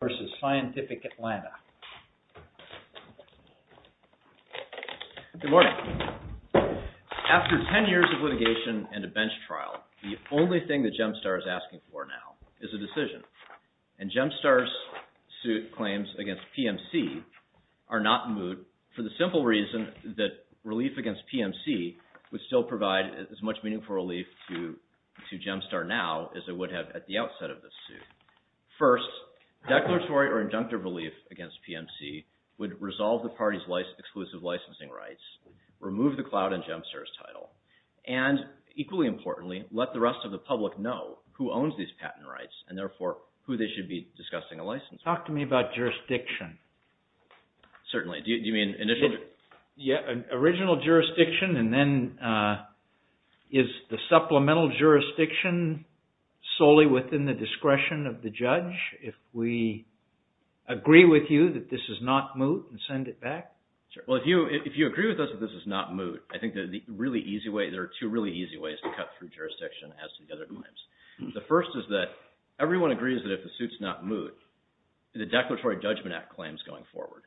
Good morning. After ten years of litigation and a bench trial, the only thing that GEMSTAR is asking for now is a decision. And GEMSTAR's suit claims against PMC are not in moot for the simple reason that relief against PMC would still provide as much meaningful relief to GEMSTAR now as it would have at the outset of this suit. First, declaratory or injunctive relief against PMC would resolve the party's exclusive licensing rights, remove the cloud in GEMSTAR's title, and equally importantly, let the rest of the public know who owns these patent rights and therefore who they should be discussing a license with. Talk to me about jurisdiction. Certainly. Do you mean initial? Yeah, original jurisdiction and then is the supplemental jurisdiction solely within the discretion of the judge? If we agree with you that this is not moot, send it back. Well, if you agree with us that this is not moot, I think there are two really easy ways to cut through jurisdiction as to the other claims. The first is that everyone agrees that if the suit's not moot, the Declaratory Judgment Act claims going forward.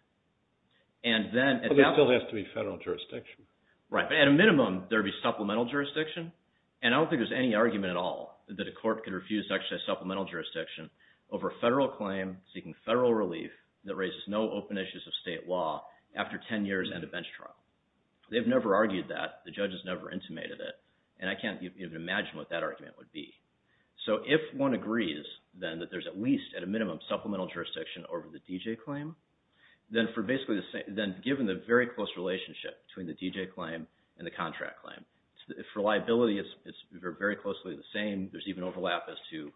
But there still has to be federal jurisdiction. Right, but at a minimum, there would be supplemental jurisdiction. And I don't think there's any argument at all that a court could refuse to actually have supplemental jurisdiction over a federal claim seeking federal relief that raises no open issues of state law after 10 years and a bench trial. They've never argued that. The judges never intimated it. And I can't even imagine what that argument would be. So if one agrees, then, that there's at least, at a minimum, supplemental jurisdiction over the D.J. claim, then given the very close relationship between the D.J. claim and the contract claim, if reliability is very closely the same, there's even overlap as to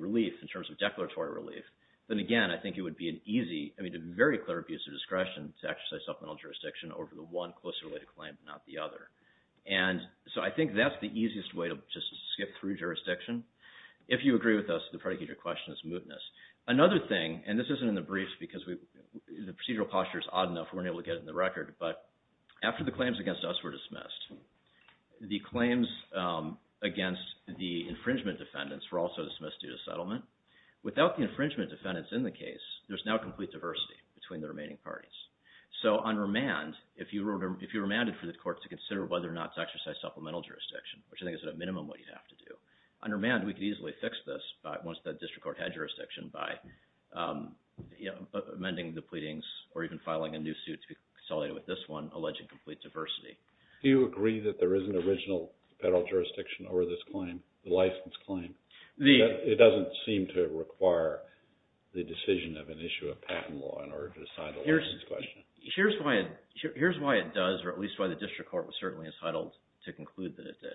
relief in terms of declaratory relief, then again, I think it would be an easy, I mean, a very clear abuse of discretion to exercise supplemental jurisdiction over the one closely related claim, not the other. And so I think that's the easiest way to just skip through jurisdiction. If you agree with us, the predicate of your question is mootness. Another thing, and this isn't in the briefs because the procedural posture is odd enough, we weren't able to get it in the record, but after the claims against us were dismissed, the claims against the infringement defendants were also dismissed due to settlement. Without the infringement defendants in the case, there's now complete diversity between the remaining parties. So on remand, if you were remanded for the court to consider whether or not to exercise supplemental jurisdiction, which I think is at a minimum what you'd have to do, on remand we could easily fix this once the district court had jurisdiction by amending the pleadings or even filing a new suit to be consolidated with this one, alleging complete diversity. Do you agree that there is an original federal jurisdiction over this claim, the license claim? It doesn't seem to require the decision of an issue of patent law in order to decide the license question. Here's why it does, or at least why the district court was certainly entitled to conclude that it did.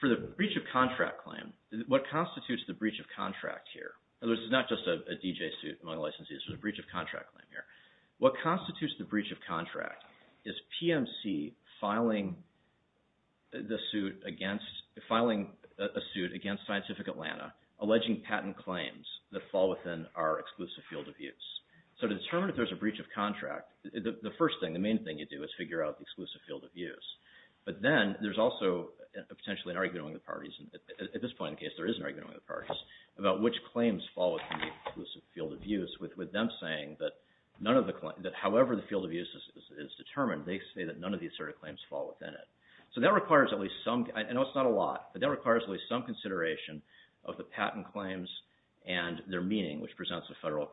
For the breach of contract claim, what constitutes the breach of contract here, and this is not just a D.J. suit among the licensees, there's a breach of contract claim here. What constitutes the breach of contract is PMC filing a suit against Scientific Atlanta alleging patent claims that fall within our exclusive field of use. So to determine if there's a breach of contract, the first thing, the main thing you do is figure out the exclusive field of use. But then there's also potentially an argument among the parties, and at this point in the case there is an argument among the parties, about which claims fall within the exclusive field of use with them saying that however the field of use is determined, they say that none of the asserted claims fall within it. So that requires at least some, I know it's not a lot, but that requires at least some consideration of the patent claims and their meaning, which presents the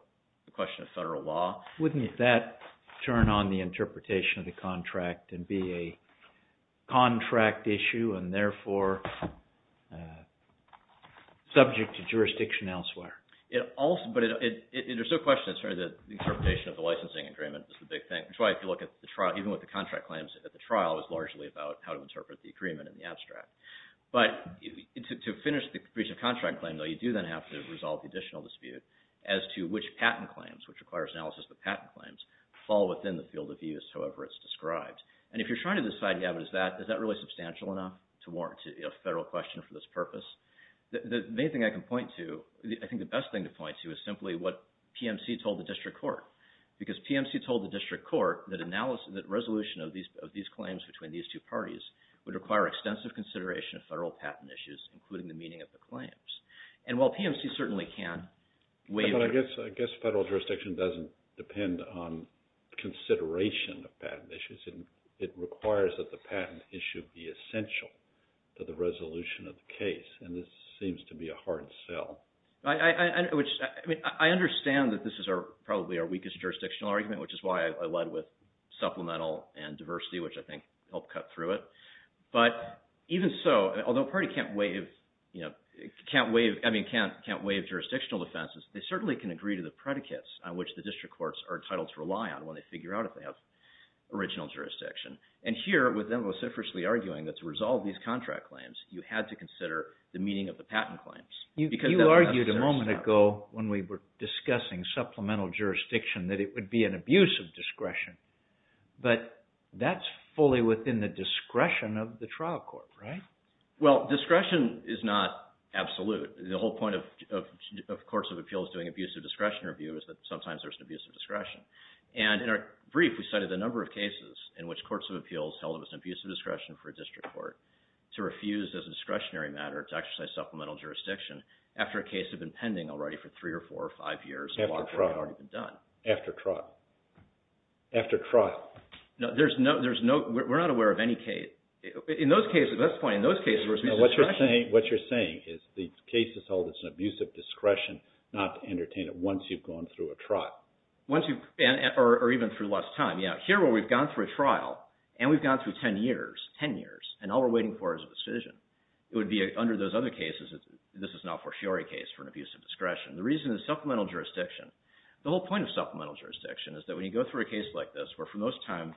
question of federal law. Wouldn't that turn on the interpretation of the contract and be a contract issue and therefore subject to jurisdiction elsewhere? There's no question that the interpretation of the licensing agreement is the big thing, which is why if you look at the trial, even with the contract claims at the trial, it was largely about how to interpret the agreement in the abstract. But to finish the breach of contract claim, though, you do then have to resolve the additional dispute as to which patent claims, which requires analysis of the patent claims, fall within the field of use however it's described. And if you're trying to decide is that really substantial enough to warrant a federal question for this purpose? The main thing I can point to, I think the best thing to point to is simply what PMC told the district court. Because PMC told the district court that resolution of these claims between these two parties would require extensive consideration of federal patent issues, including the meaning of the claims. I guess federal jurisdiction doesn't depend on consideration of patent issues. It requires that the patent issue be essential to the resolution of the case, and this seems to be a hard sell. I understand that this is probably our weakest jurisdictional argument, which is why I led with supplemental and diversity, which I think helped cut through it. But even so, although a party can't waive jurisdictional defenses, they certainly can agree to the predicates on which the district courts are entitled to rely on when they figure out if they have original jurisdiction. And here, with them vociferously arguing that to resolve these contract claims, you had to consider the meaning of the patent claims. You argued a moment ago when we were discussing supplemental jurisdiction that it would be an abuse of discretion. But that's fully within the discretion of the trial court, right? Well, discretion is not absolute. The whole point of courts of appeals doing abuse of discretion review is that sometimes there's an abuse of discretion. And in our brief, we cited a number of cases in which courts of appeals held it was an abuse of discretion for a district court to refuse as a discretionary matter to exercise supplemental jurisdiction after a case had been pending already for three or four or five years. After trot. After trot. After trot. No, there's no – we're not aware of any case – in those cases, that's the point. In those cases, there was abuse of discretion. What you're saying is the case is held as an abuse of discretion not to entertain it once you've gone through a trot. Or even through less time. Here, where we've gone through a trial and we've gone through 10 years, 10 years, and all we're waiting for is a decision. It would be under those other cases, this is not for sure a case for an abuse of discretion. The reason is supplemental jurisdiction. The whole point of supplemental jurisdiction is that when you go through a case like this where for the most time,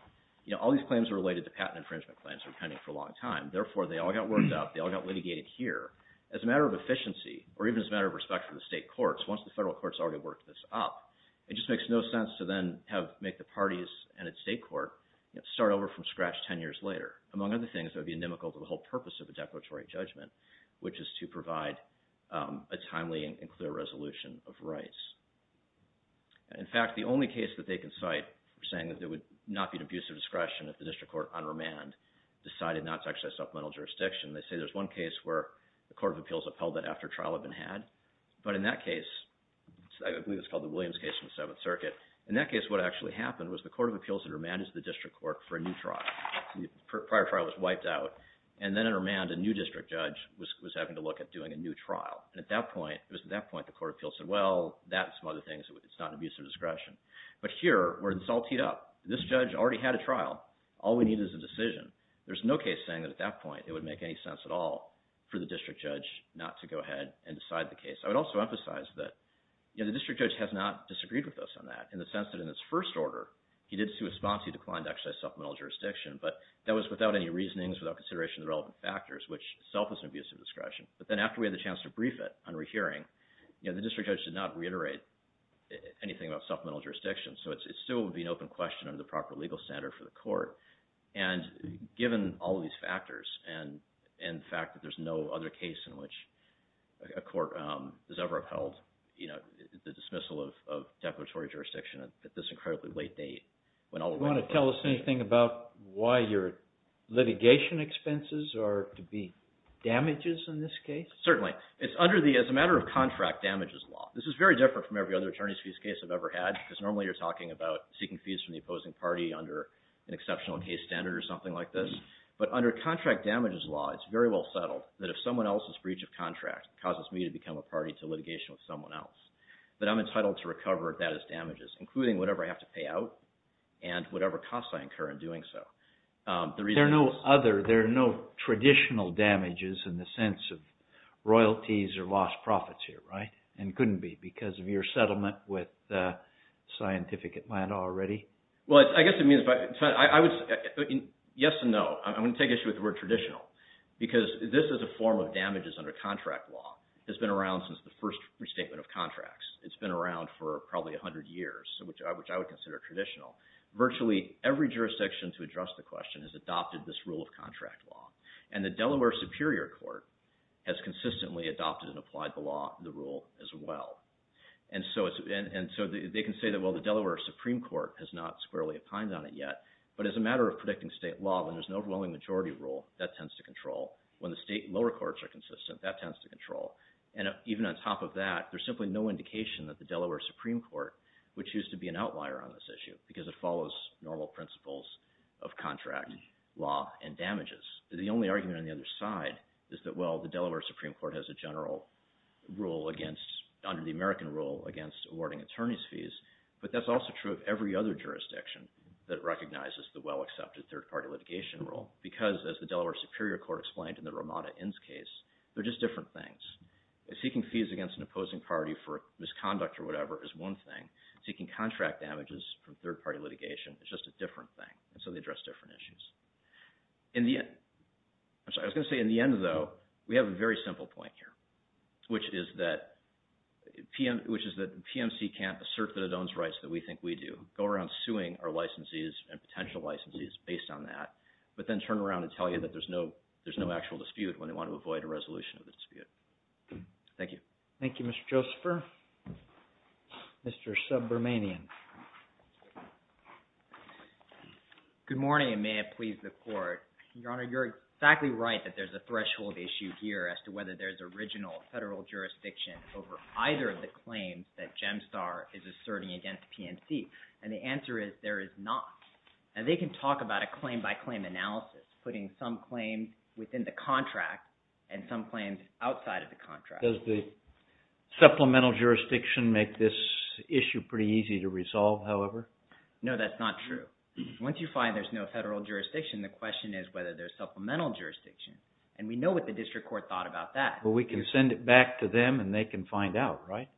all these claims are related to patent infringement claims that were pending for a long time. Therefore, they all got worked out. They all got litigated here. As a matter of efficiency, or even as a matter of respect for the state courts, once the federal courts already worked this up, it just makes no sense to then have – make the parties and a state court start over from scratch 10 years later. Among other things, it would be inimical to the whole purpose of a declaratory judgment, which is to provide a timely and clear resolution of rights. In fact, the only case that they can cite saying that there would not be an abuse of discretion if the district court on remand decided not to exercise supplemental jurisdiction, they say there's one case where the court of appeals upheld that after trial had been had. But in that case, I believe it's called the Williams case in the Seventh Circuit. In that case, what actually happened was the court of appeals had remanded the district court for a new trial. The prior trial was wiped out. And then in remand, a new district judge was having to look at doing a new trial. And at that point, it was at that point the court of appeals said, well, that and some other things, it's not an abuse of discretion. But here, where it's all teed up, this judge already had a trial. All we need is a decision. There's no case saying that at that point it would make any sense at all for the district judge not to go ahead and decide the case. I would also emphasize that the district judge has not disagreed with us on that in the sense that in its first order, he did see a response. He declined to exercise supplemental jurisdiction. But that was without any reasonings, without consideration of the relevant factors, which itself is an abuse of discretion. But then after we had the chance to brief it on rehearing, the district judge did not reiterate anything about supplemental jurisdiction. So it still would be an open question under the proper legal standard for the court. And given all of these factors and the fact that there's no other case in which a court has ever upheld the dismissal of declaratory jurisdiction at this incredibly late date. Do you want to tell us anything about why your litigation expenses are to be damages in this case? Certainly. It's under the, as a matter of contract, damages law. This is very different from every other attorneys' fees case I've ever had because normally you're talking about seeking fees from the opposing party under an exceptional case standard or something like this. But under contract damages law, it's very well settled that if someone else's breach of contract causes me to become a party to litigation with someone else, that I'm entitled to recover that as damages, including whatever I have to pay out and whatever costs I incur in doing so. There are no other, there are no traditional damages in the sense of royalties or lost profits here, right? And couldn't be because of your settlement with Scientific Atlanta already? Well, I guess it means, yes and no. I'm going to take issue with the word traditional because this is a form of damages under contract law. It's been around since the first restatement of contracts. It's been around for probably 100 years, which I would consider traditional. Virtually every jurisdiction to address the question has adopted this rule of contract law. And the Delaware Superior Court has consistently adopted and applied the law, the rule as well. And so they can say that, well, the Delaware Supreme Court has not squarely opined on it yet. But as a matter of predicting state law, when there's an overwhelming majority rule, that tends to control. When the state lower courts are consistent, that tends to control. And even on top of that, there's simply no indication that the Delaware Supreme Court would choose to be an outlier on this issue because it follows normal principles of contract law and damages. The only argument on the other side is that, well, the Delaware Supreme Court has a general rule against, under the American rule, against awarding attorney's fees. But that's also true of every other jurisdiction that recognizes the well-accepted third-party litigation rule. Because, as the Delaware Superior Court explained in the Ramada Inns case, they're just different things. Seeking fees against an opposing party for misconduct or whatever is one thing. Seeking contract damages from third-party litigation is just a different thing. And so they address different issues. I was going to say, in the end, though, we have a very simple point here, which is that PMC can't assert that it owns rights that we think we do. Go around suing our licensees and potential licensees based on that. But then turn around and tell you that there's no actual dispute when they want to avoid a resolution of the dispute. Thank you. Thank you, Mr. Josepher. Mr. Subbermanian. Good morning, and may it please the Court. Your Honor, you're exactly right that there's a threshold issue here as to whether there's original federal jurisdiction over either of the claims that GEMSTAR is asserting against PMC. And the answer is there is not. And they can talk about a claim-by-claim analysis, putting some claims within the contract and some claims outside of the contract. Does the supplemental jurisdiction make this issue pretty easy to resolve, however? No, that's not true. Once you find there's no federal jurisdiction, the question is whether there's supplemental jurisdiction. And we know what the district court thought about that. Well, we can send it back to them, and they can find out, right?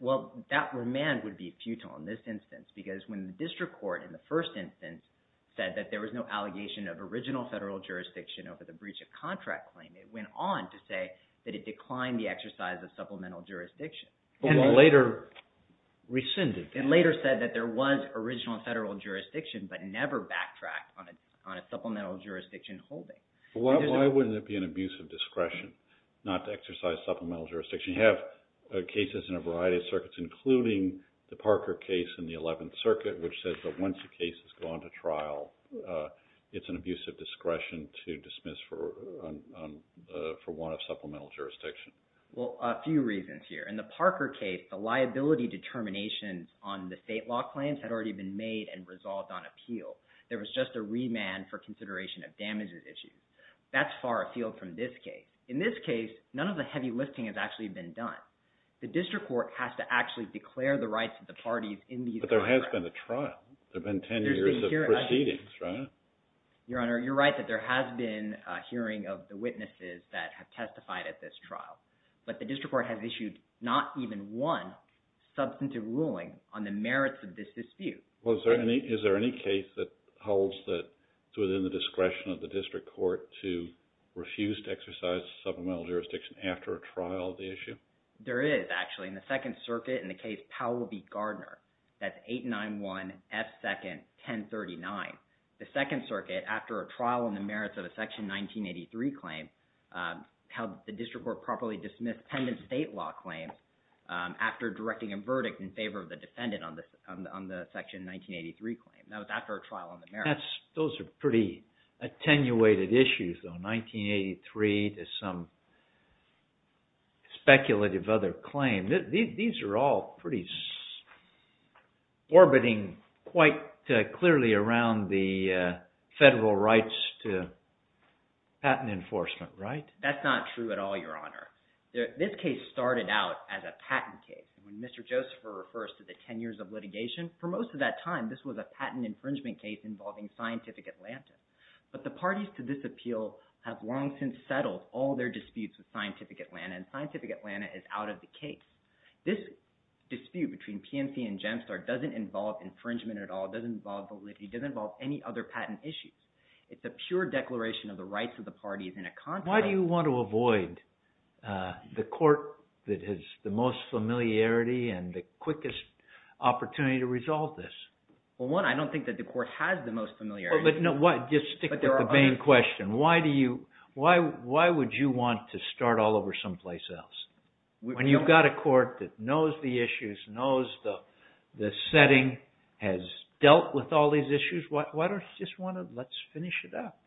Well, that remand would be futile in this instance because when the district court in the first instance said that there was no allegation of original federal jurisdiction over the breach of contract claim, it went on to say that it declined the exercise of supplemental jurisdiction. Well, it later rescinded that. It later said that there was original federal jurisdiction, but never backtracked on a supplemental jurisdiction holding. Why wouldn't it be an abuse of discretion not to exercise supplemental jurisdiction? You have cases in a variety of circuits, including the Parker case in the 11th Circuit, which says that once a case has gone to trial, it's an abuse of discretion to dismiss for one of supplemental jurisdiction. Well, a few reasons here. In the Parker case, the liability determinations on the state law claims had already been made and resolved on appeal. There was just a remand for consideration of damages issues. That's far afield from this case. In this case, none of the heavy lifting has actually been done. The district court has to actually declare the rights of the parties in these— But there has been a trial. There have been 10 years of proceedings, right? Your Honor, you're right that there has been a hearing of the witnesses that have testified at this trial. But the district court has issued not even one substantive ruling on the merits of this dispute. Well, is there any case that holds that it's within the discretion of the district court to refuse to exercise supplemental jurisdiction after a trial of the issue? There is, actually. In the Second Circuit, in the case Powell v. Gardner, that's 891 F. 2nd, 1039. The Second Circuit, after a trial on the merits of a Section 1983 claim, held that the district court properly dismissed pendent state law claims after directing a verdict in favor of the defendant on the Section 1983 claim. That was after a trial on the merits. Those are pretty attenuated issues, though. These are all pretty orbiting quite clearly around the federal rights to patent enforcement, right? That's not true at all, Your Honor. This case started out as a patent case. When Mr. Joseph refers to the 10 years of litigation, for most of that time, this was a patent infringement case involving Scientific Atlantis. But the parties to this appeal have long since settled all their disputes with Scientific Atlantis, and Scientific Atlantis is out of the case. This dispute between PNC and GEMSTAR doesn't involve infringement at all. It doesn't involve validity. It doesn't involve any other patent issues. It's a pure declaration of the rights of the parties in a contract. Why do you want to avoid the court that has the most familiarity and the quickest opportunity to resolve this? Well, one, I don't think that the court has the most familiarity. Just stick to the main question. Why would you want to start all over someplace else? When you've got a court that knows the issues, knows the setting, has dealt with all these issues, why don't you just want to finish it up?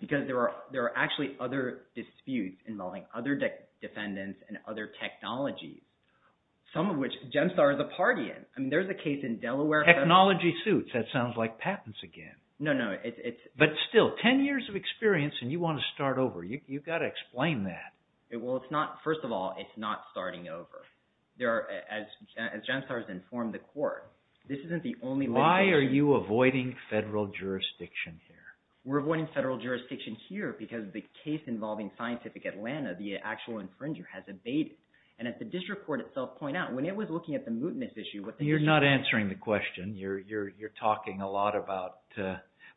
Because there are actually other disputes involving other defendants and other technologies, some of which GEMSTAR is a party in. I mean, there's a case in Delaware. Technology suits. That sounds like patents again. No, no. But still, ten years of experience, and you want to start over. You've got to explain that. Well, it's not – first of all, it's not starting over. As GEMSTAR has informed the court, this isn't the only – Why are you avoiding federal jurisdiction here? We're avoiding federal jurisdiction here because the case involving Scientific Atlanta, the actual infringer, has abated. And as the district court itself pointed out, when it was looking at the mootness issue – You're not answering the question. You're talking a lot about –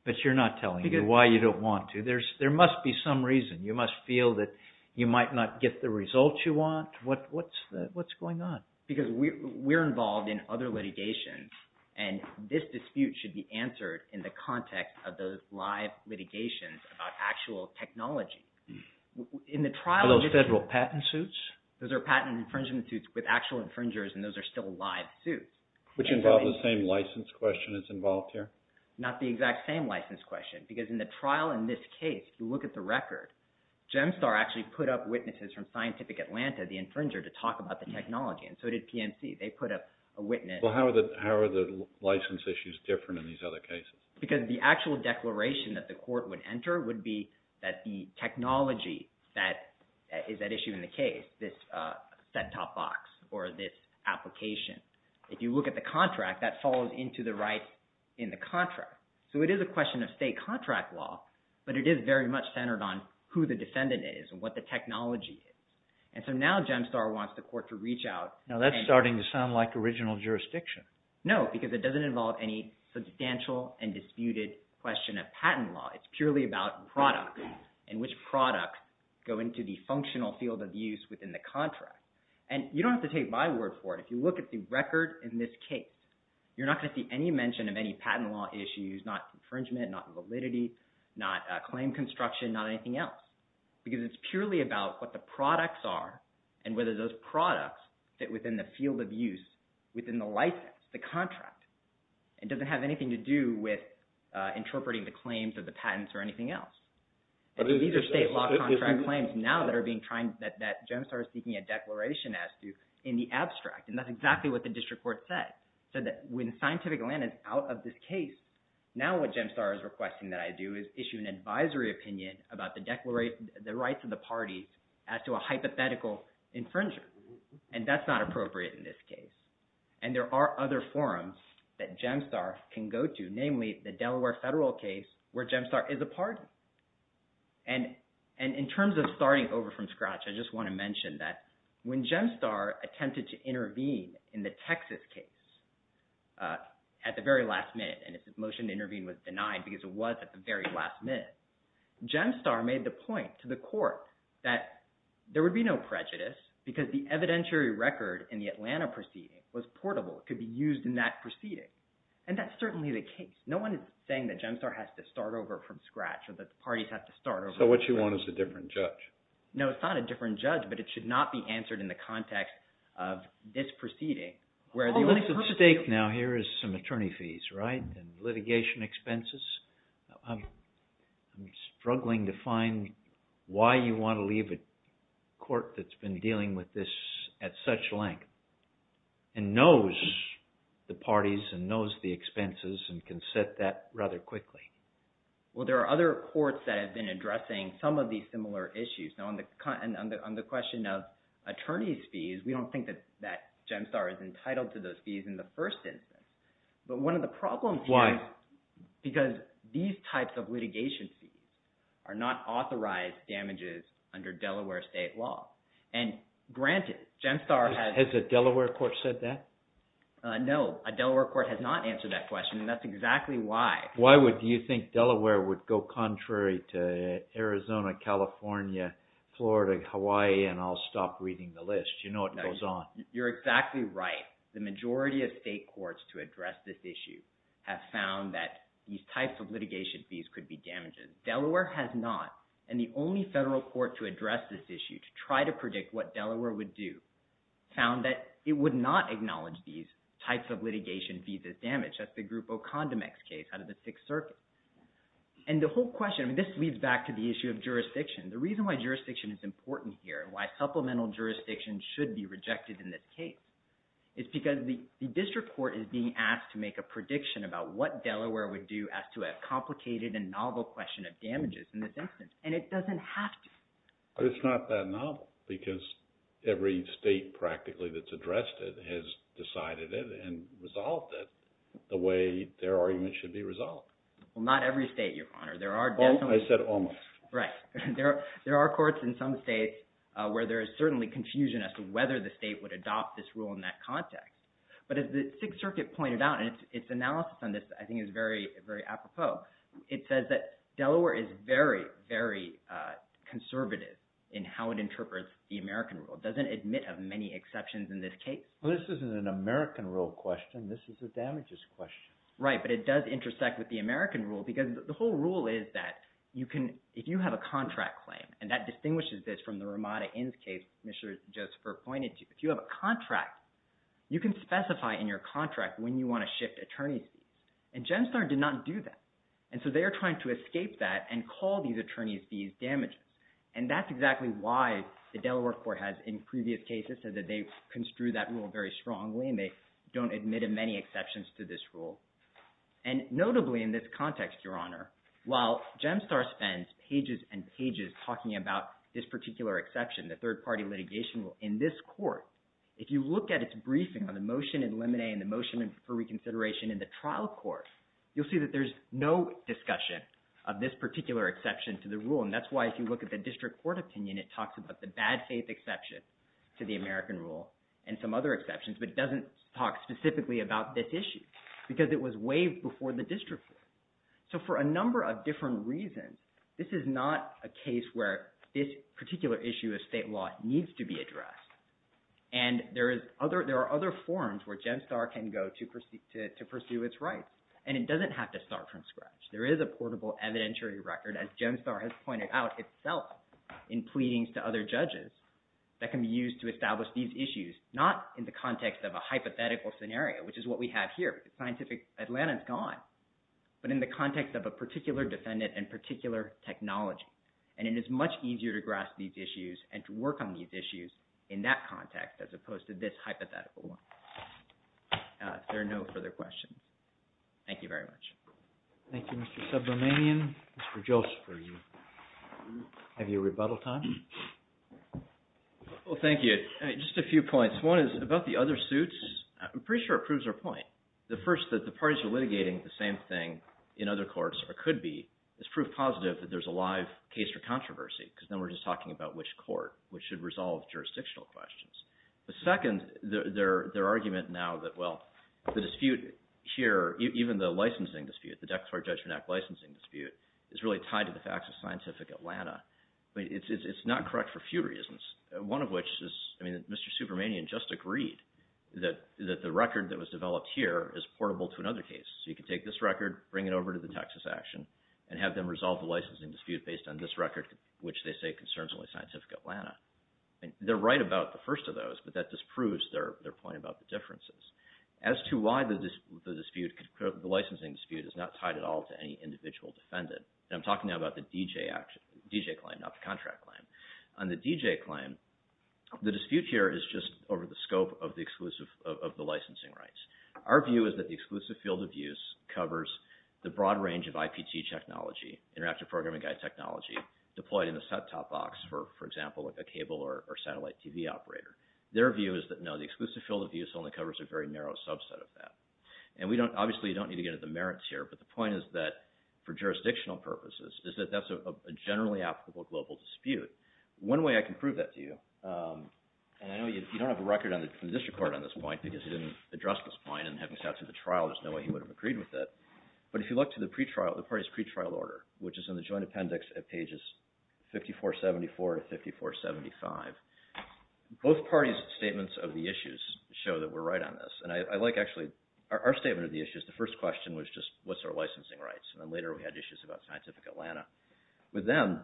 but you're not telling me why you don't want to. There must be some reason. You must feel that you might not get the results you want. What's going on? Because we're involved in other litigation, and this dispute should be answered in the context of those live litigations about actual technology. Are those federal patent suits? Those are patent infringement suits with actual infringers, and those are still live suits. Which involves the same license question that's involved here? Not the exact same license question because in the trial in this case, if you look at the record, GEMSTAR actually put up witnesses from Scientific Atlanta, the infringer, to talk about the technology. And so did PNC. They put up a witness. Well, how are the license issues different in these other cases? Because the actual declaration that the court would enter would be that the technology that is at issue in the case, this set-top box or this application. If you look at the contract, that falls into the rights in the contract. So it is a question of state contract law, but it is very much centered on who the defendant is and what the technology is. And so now GEMSTAR wants the court to reach out. Now that's starting to sound like original jurisdiction. No, because it doesn't involve any substantial and disputed question of patent law. It's purely about products and which products go into the functional field of use within the contract. And you don't have to take my word for it. If you look at the record in this case, you're not going to see any mention of any patent law issues, not infringement, not validity, not claim construction, not anything else. Because it's purely about what the products are and whether those products fit within the field of use within the license, the contract. It doesn't have anything to do with interpreting the claims or the patents or anything else. These are state law contract claims now that are being – that GEMSTAR is seeking a declaration as to in the abstract. And that's exactly what the district court said. It said that when scientific land is out of this case, now what GEMSTAR is requesting that I do is issue an advisory opinion about the rights of the parties as to a hypothetical infringer. And that's not appropriate in this case. And there are other forums that GEMSTAR can go to, namely the Delaware federal case where GEMSTAR is a party. And in terms of starting over from scratch, I just want to mention that when GEMSTAR attempted to intervene in the Texas case at the very last minute – and its motion to intervene was denied because it was at the very last minute – it was portable. It could be used in that proceeding. And that's certainly the case. No one is saying that GEMSTAR has to start over from scratch or that the parties have to start over from scratch. So what you want is a different judge. No, it's not a different judge, but it should not be answered in the context of this proceeding. Well, what's at stake now here is some attorney fees, right, and litigation expenses. I'm struggling to find why you want to leave a court that's been dealing with this at such length and knows the parties and knows the expenses and can set that rather quickly. Well, there are other courts that have been addressing some of these similar issues. Now, on the question of attorney's fees, we don't think that GEMSTAR is entitled to those fees in the first instance. But one of the problems here – Why? Because these types of litigation fees are not authorized damages under Delaware state law. And granted, GEMSTAR has – Has a Delaware court said that? No, a Delaware court has not answered that question, and that's exactly why. Why would you think Delaware would go contrary to Arizona, California, Florida, Hawaii, and I'll stop reading the list? You know what goes on. You're exactly right. The majority of state courts to address this issue have found that these types of litigation fees could be damages. Delaware has not. And the only federal court to address this issue to try to predict what Delaware would do found that it would not acknowledge these types of litigation fees as damage. That's the Group Ocondomex case out of the Sixth Circuit. And the whole question – The reason why jurisdiction is important here and why supplemental jurisdiction should be rejected in this case is because the district court is being asked to make a prediction about what Delaware would do as to a complicated and novel question of damages in this instance. And it doesn't have to. But it's not that novel because every state practically that's addressed it has decided it and resolved it the way their argument should be resolved. Well, not every state, Your Honor. There are definitely – I said almost. Right. There are courts in some states where there is certainly confusion as to whether the state would adopt this rule in that context. But as the Sixth Circuit pointed out, and its analysis on this I think is very apropos, it says that Delaware is very, very conservative in how it interprets the American rule. It doesn't admit of many exceptions in this case. Well, this isn't an American rule question. This is a damages question. Right. But it does intersect with the American rule because the whole rule is that you can – if you have a contract claim, and that distinguishes this from the Ramada Inns case Commissioner Josepher pointed to, if you have a contract, you can specify in your contract when you want to shift attorney's fees. And GenStar did not do that. And so they are trying to escape that and call these attorney's fees damages. And that's exactly why the Delaware court has in previous cases said that they construe that rule very strongly, and they don't admit of many exceptions to this rule. And notably in this context, Your Honor, while GenStar spends pages and pages talking about this particular exception, the third-party litigation rule, in this court, if you look at its briefing on the motion in Lemonet and the motion for reconsideration in the trial court, you'll see that there's no discussion of this particular exception to the rule. And that's why if you look at the district court opinion, it talks about the bad faith exception to the American rule and some other exceptions, but it doesn't talk specifically about this issue because it was waived before the district court. So for a number of different reasons, this is not a case where this particular issue of state law needs to be addressed. And there are other forums where GenStar can go to pursue its rights. And it doesn't have to start from scratch. There is a portable evidentiary record, as GenStar has pointed out itself, in pleadings to other judges that can be used to establish these issues, not in the context of a hypothetical scenario, which is what we have here. Scientific Atlanta is gone. But in the context of a particular defendant and particular technology. And it is much easier to grasp these issues and to work on these issues in that context as opposed to this hypothetical one. If there are no further questions, thank you very much. Thank you, Mr. Subramanian. Mr. Joseph, do you have your rebuttal time? Well, thank you. Just a few points. One is about the other suits. I'm pretty sure it proves our point. The first, that the parties are litigating the same thing in other courts or could be is proof positive that there's a live case for controversy because then we're just talking about which court, which should resolve jurisdictional questions. The second, their argument now that, well, the dispute here, even the licensing dispute, the Dexart Judgment Act licensing dispute, is really tied to the facts of Scientific Atlanta. It's not correct for a few reasons, one of which is, I mean, Mr. Subramanian just agreed that the record that was developed here is portable to another case. So you can take this record, bring it over to the Texas action, and have them resolve the licensing dispute based on this record, which they say concerns only Scientific Atlanta. They're right about the first of those, but that disproves their point about the differences. As to why the licensing dispute is not tied at all to any individual defendant, and I'm talking now about the DJ claim, not the contract claim. On the DJ claim, the dispute here is just over the scope of the licensing rights. Our view is that the exclusive field of use covers the broad range of IPT technology, Interactive Programming Guide technology, deployed in a set-top box, for example, a cable or satellite TV operator. Their view is that, no, the exclusive field of use only covers a very narrow subset of that. And we don't, obviously, you don't need to get into the merits here, but the point is that, for jurisdictional purposes, is that that's a generally applicable global dispute. One way I can prove that to you, and I know you don't have a record from the district court on this point because he didn't address this point, and having sat through the trial, there's no way he would have agreed with it. But if you look to the pre-trial, the party's pre-trial order, which is in the joint appendix at pages 5474 to 5475, both parties' statements of the issues show that we're right on this. And I like, actually, our statement of the issues, the first question was just, what's our licensing rights? And then later we had issues about Scientific Atlanta. With them,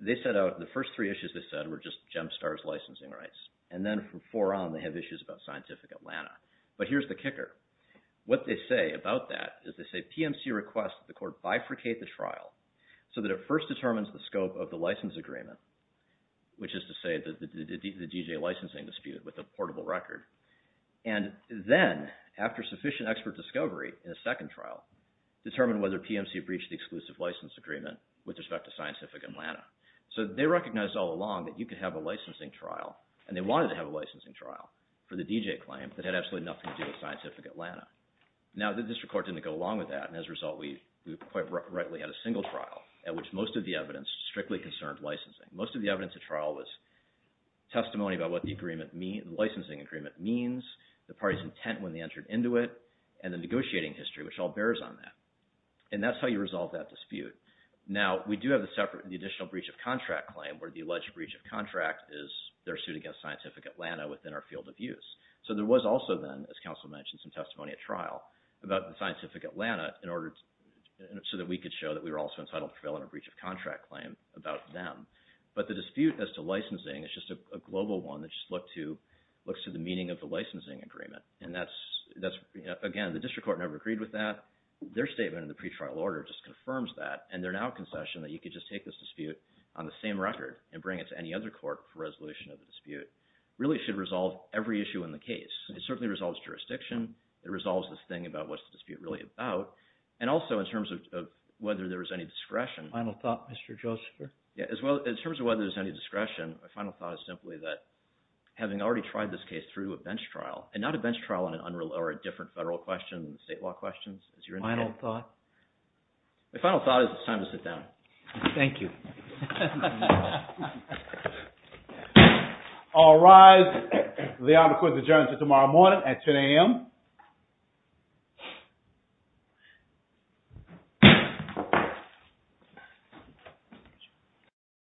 they set out, the first three issues they said were just GEMSTAR's licensing rights. And then from 4 on, they have issues about Scientific Atlanta. But here's the kicker. What they say about that is they say, PMC requests that the court bifurcate the trial so that it first determines the scope of the license agreement, which is to say the DJ licensing dispute with a portable record. And then, after sufficient expert discovery in a second trial, determine whether PMC breached the exclusive license agreement with respect to Scientific Atlanta. So they recognized all along that you could have a licensing trial, and they wanted to have a licensing trial for the DJ claim that had absolutely nothing to do with Scientific Atlanta. Now, the district court didn't go along with that, and as a result, we quite rightly had a single trial at which most of the evidence strictly concerned licensing. Most of the evidence at trial was testimony about what the licensing agreement means, the party's intent when they entered into it, and the negotiating history, which all bears on that. And that's how you resolve that dispute. Now, we do have the additional breach of contract claim where the alleged breach of contract is their suit against Scientific Atlanta within our field of use. So there was also then, as counsel mentioned, some testimony at trial about the Scientific Atlanta so that we could show that we were also entitled to prevail on a breach of contract claim about them. But the dispute as to licensing is just a global one that just looks to the meaning of the licensing agreement. And again, the district court never agreed with that. Their statement in the pretrial order just confirms that, and they're now concessioned that you could just take this dispute on the same record and bring it to any other court for resolution of the dispute. Really, it should resolve every issue in the case. It certainly resolves jurisdiction. It resolves this thing about what's the dispute really about. And also in terms of whether there is any discretion. Final thought, Mr. Josepher? Yeah, as well, in terms of whether there's any discretion, my final thought is simply that having already tried this case through a bench trial, and not a bench trial or a different federal question than the state law questions. Final thought? My final thought is it's time to sit down. Thank you. All rise. The honor court's adjourned until tomorrow morning at 10 a.m.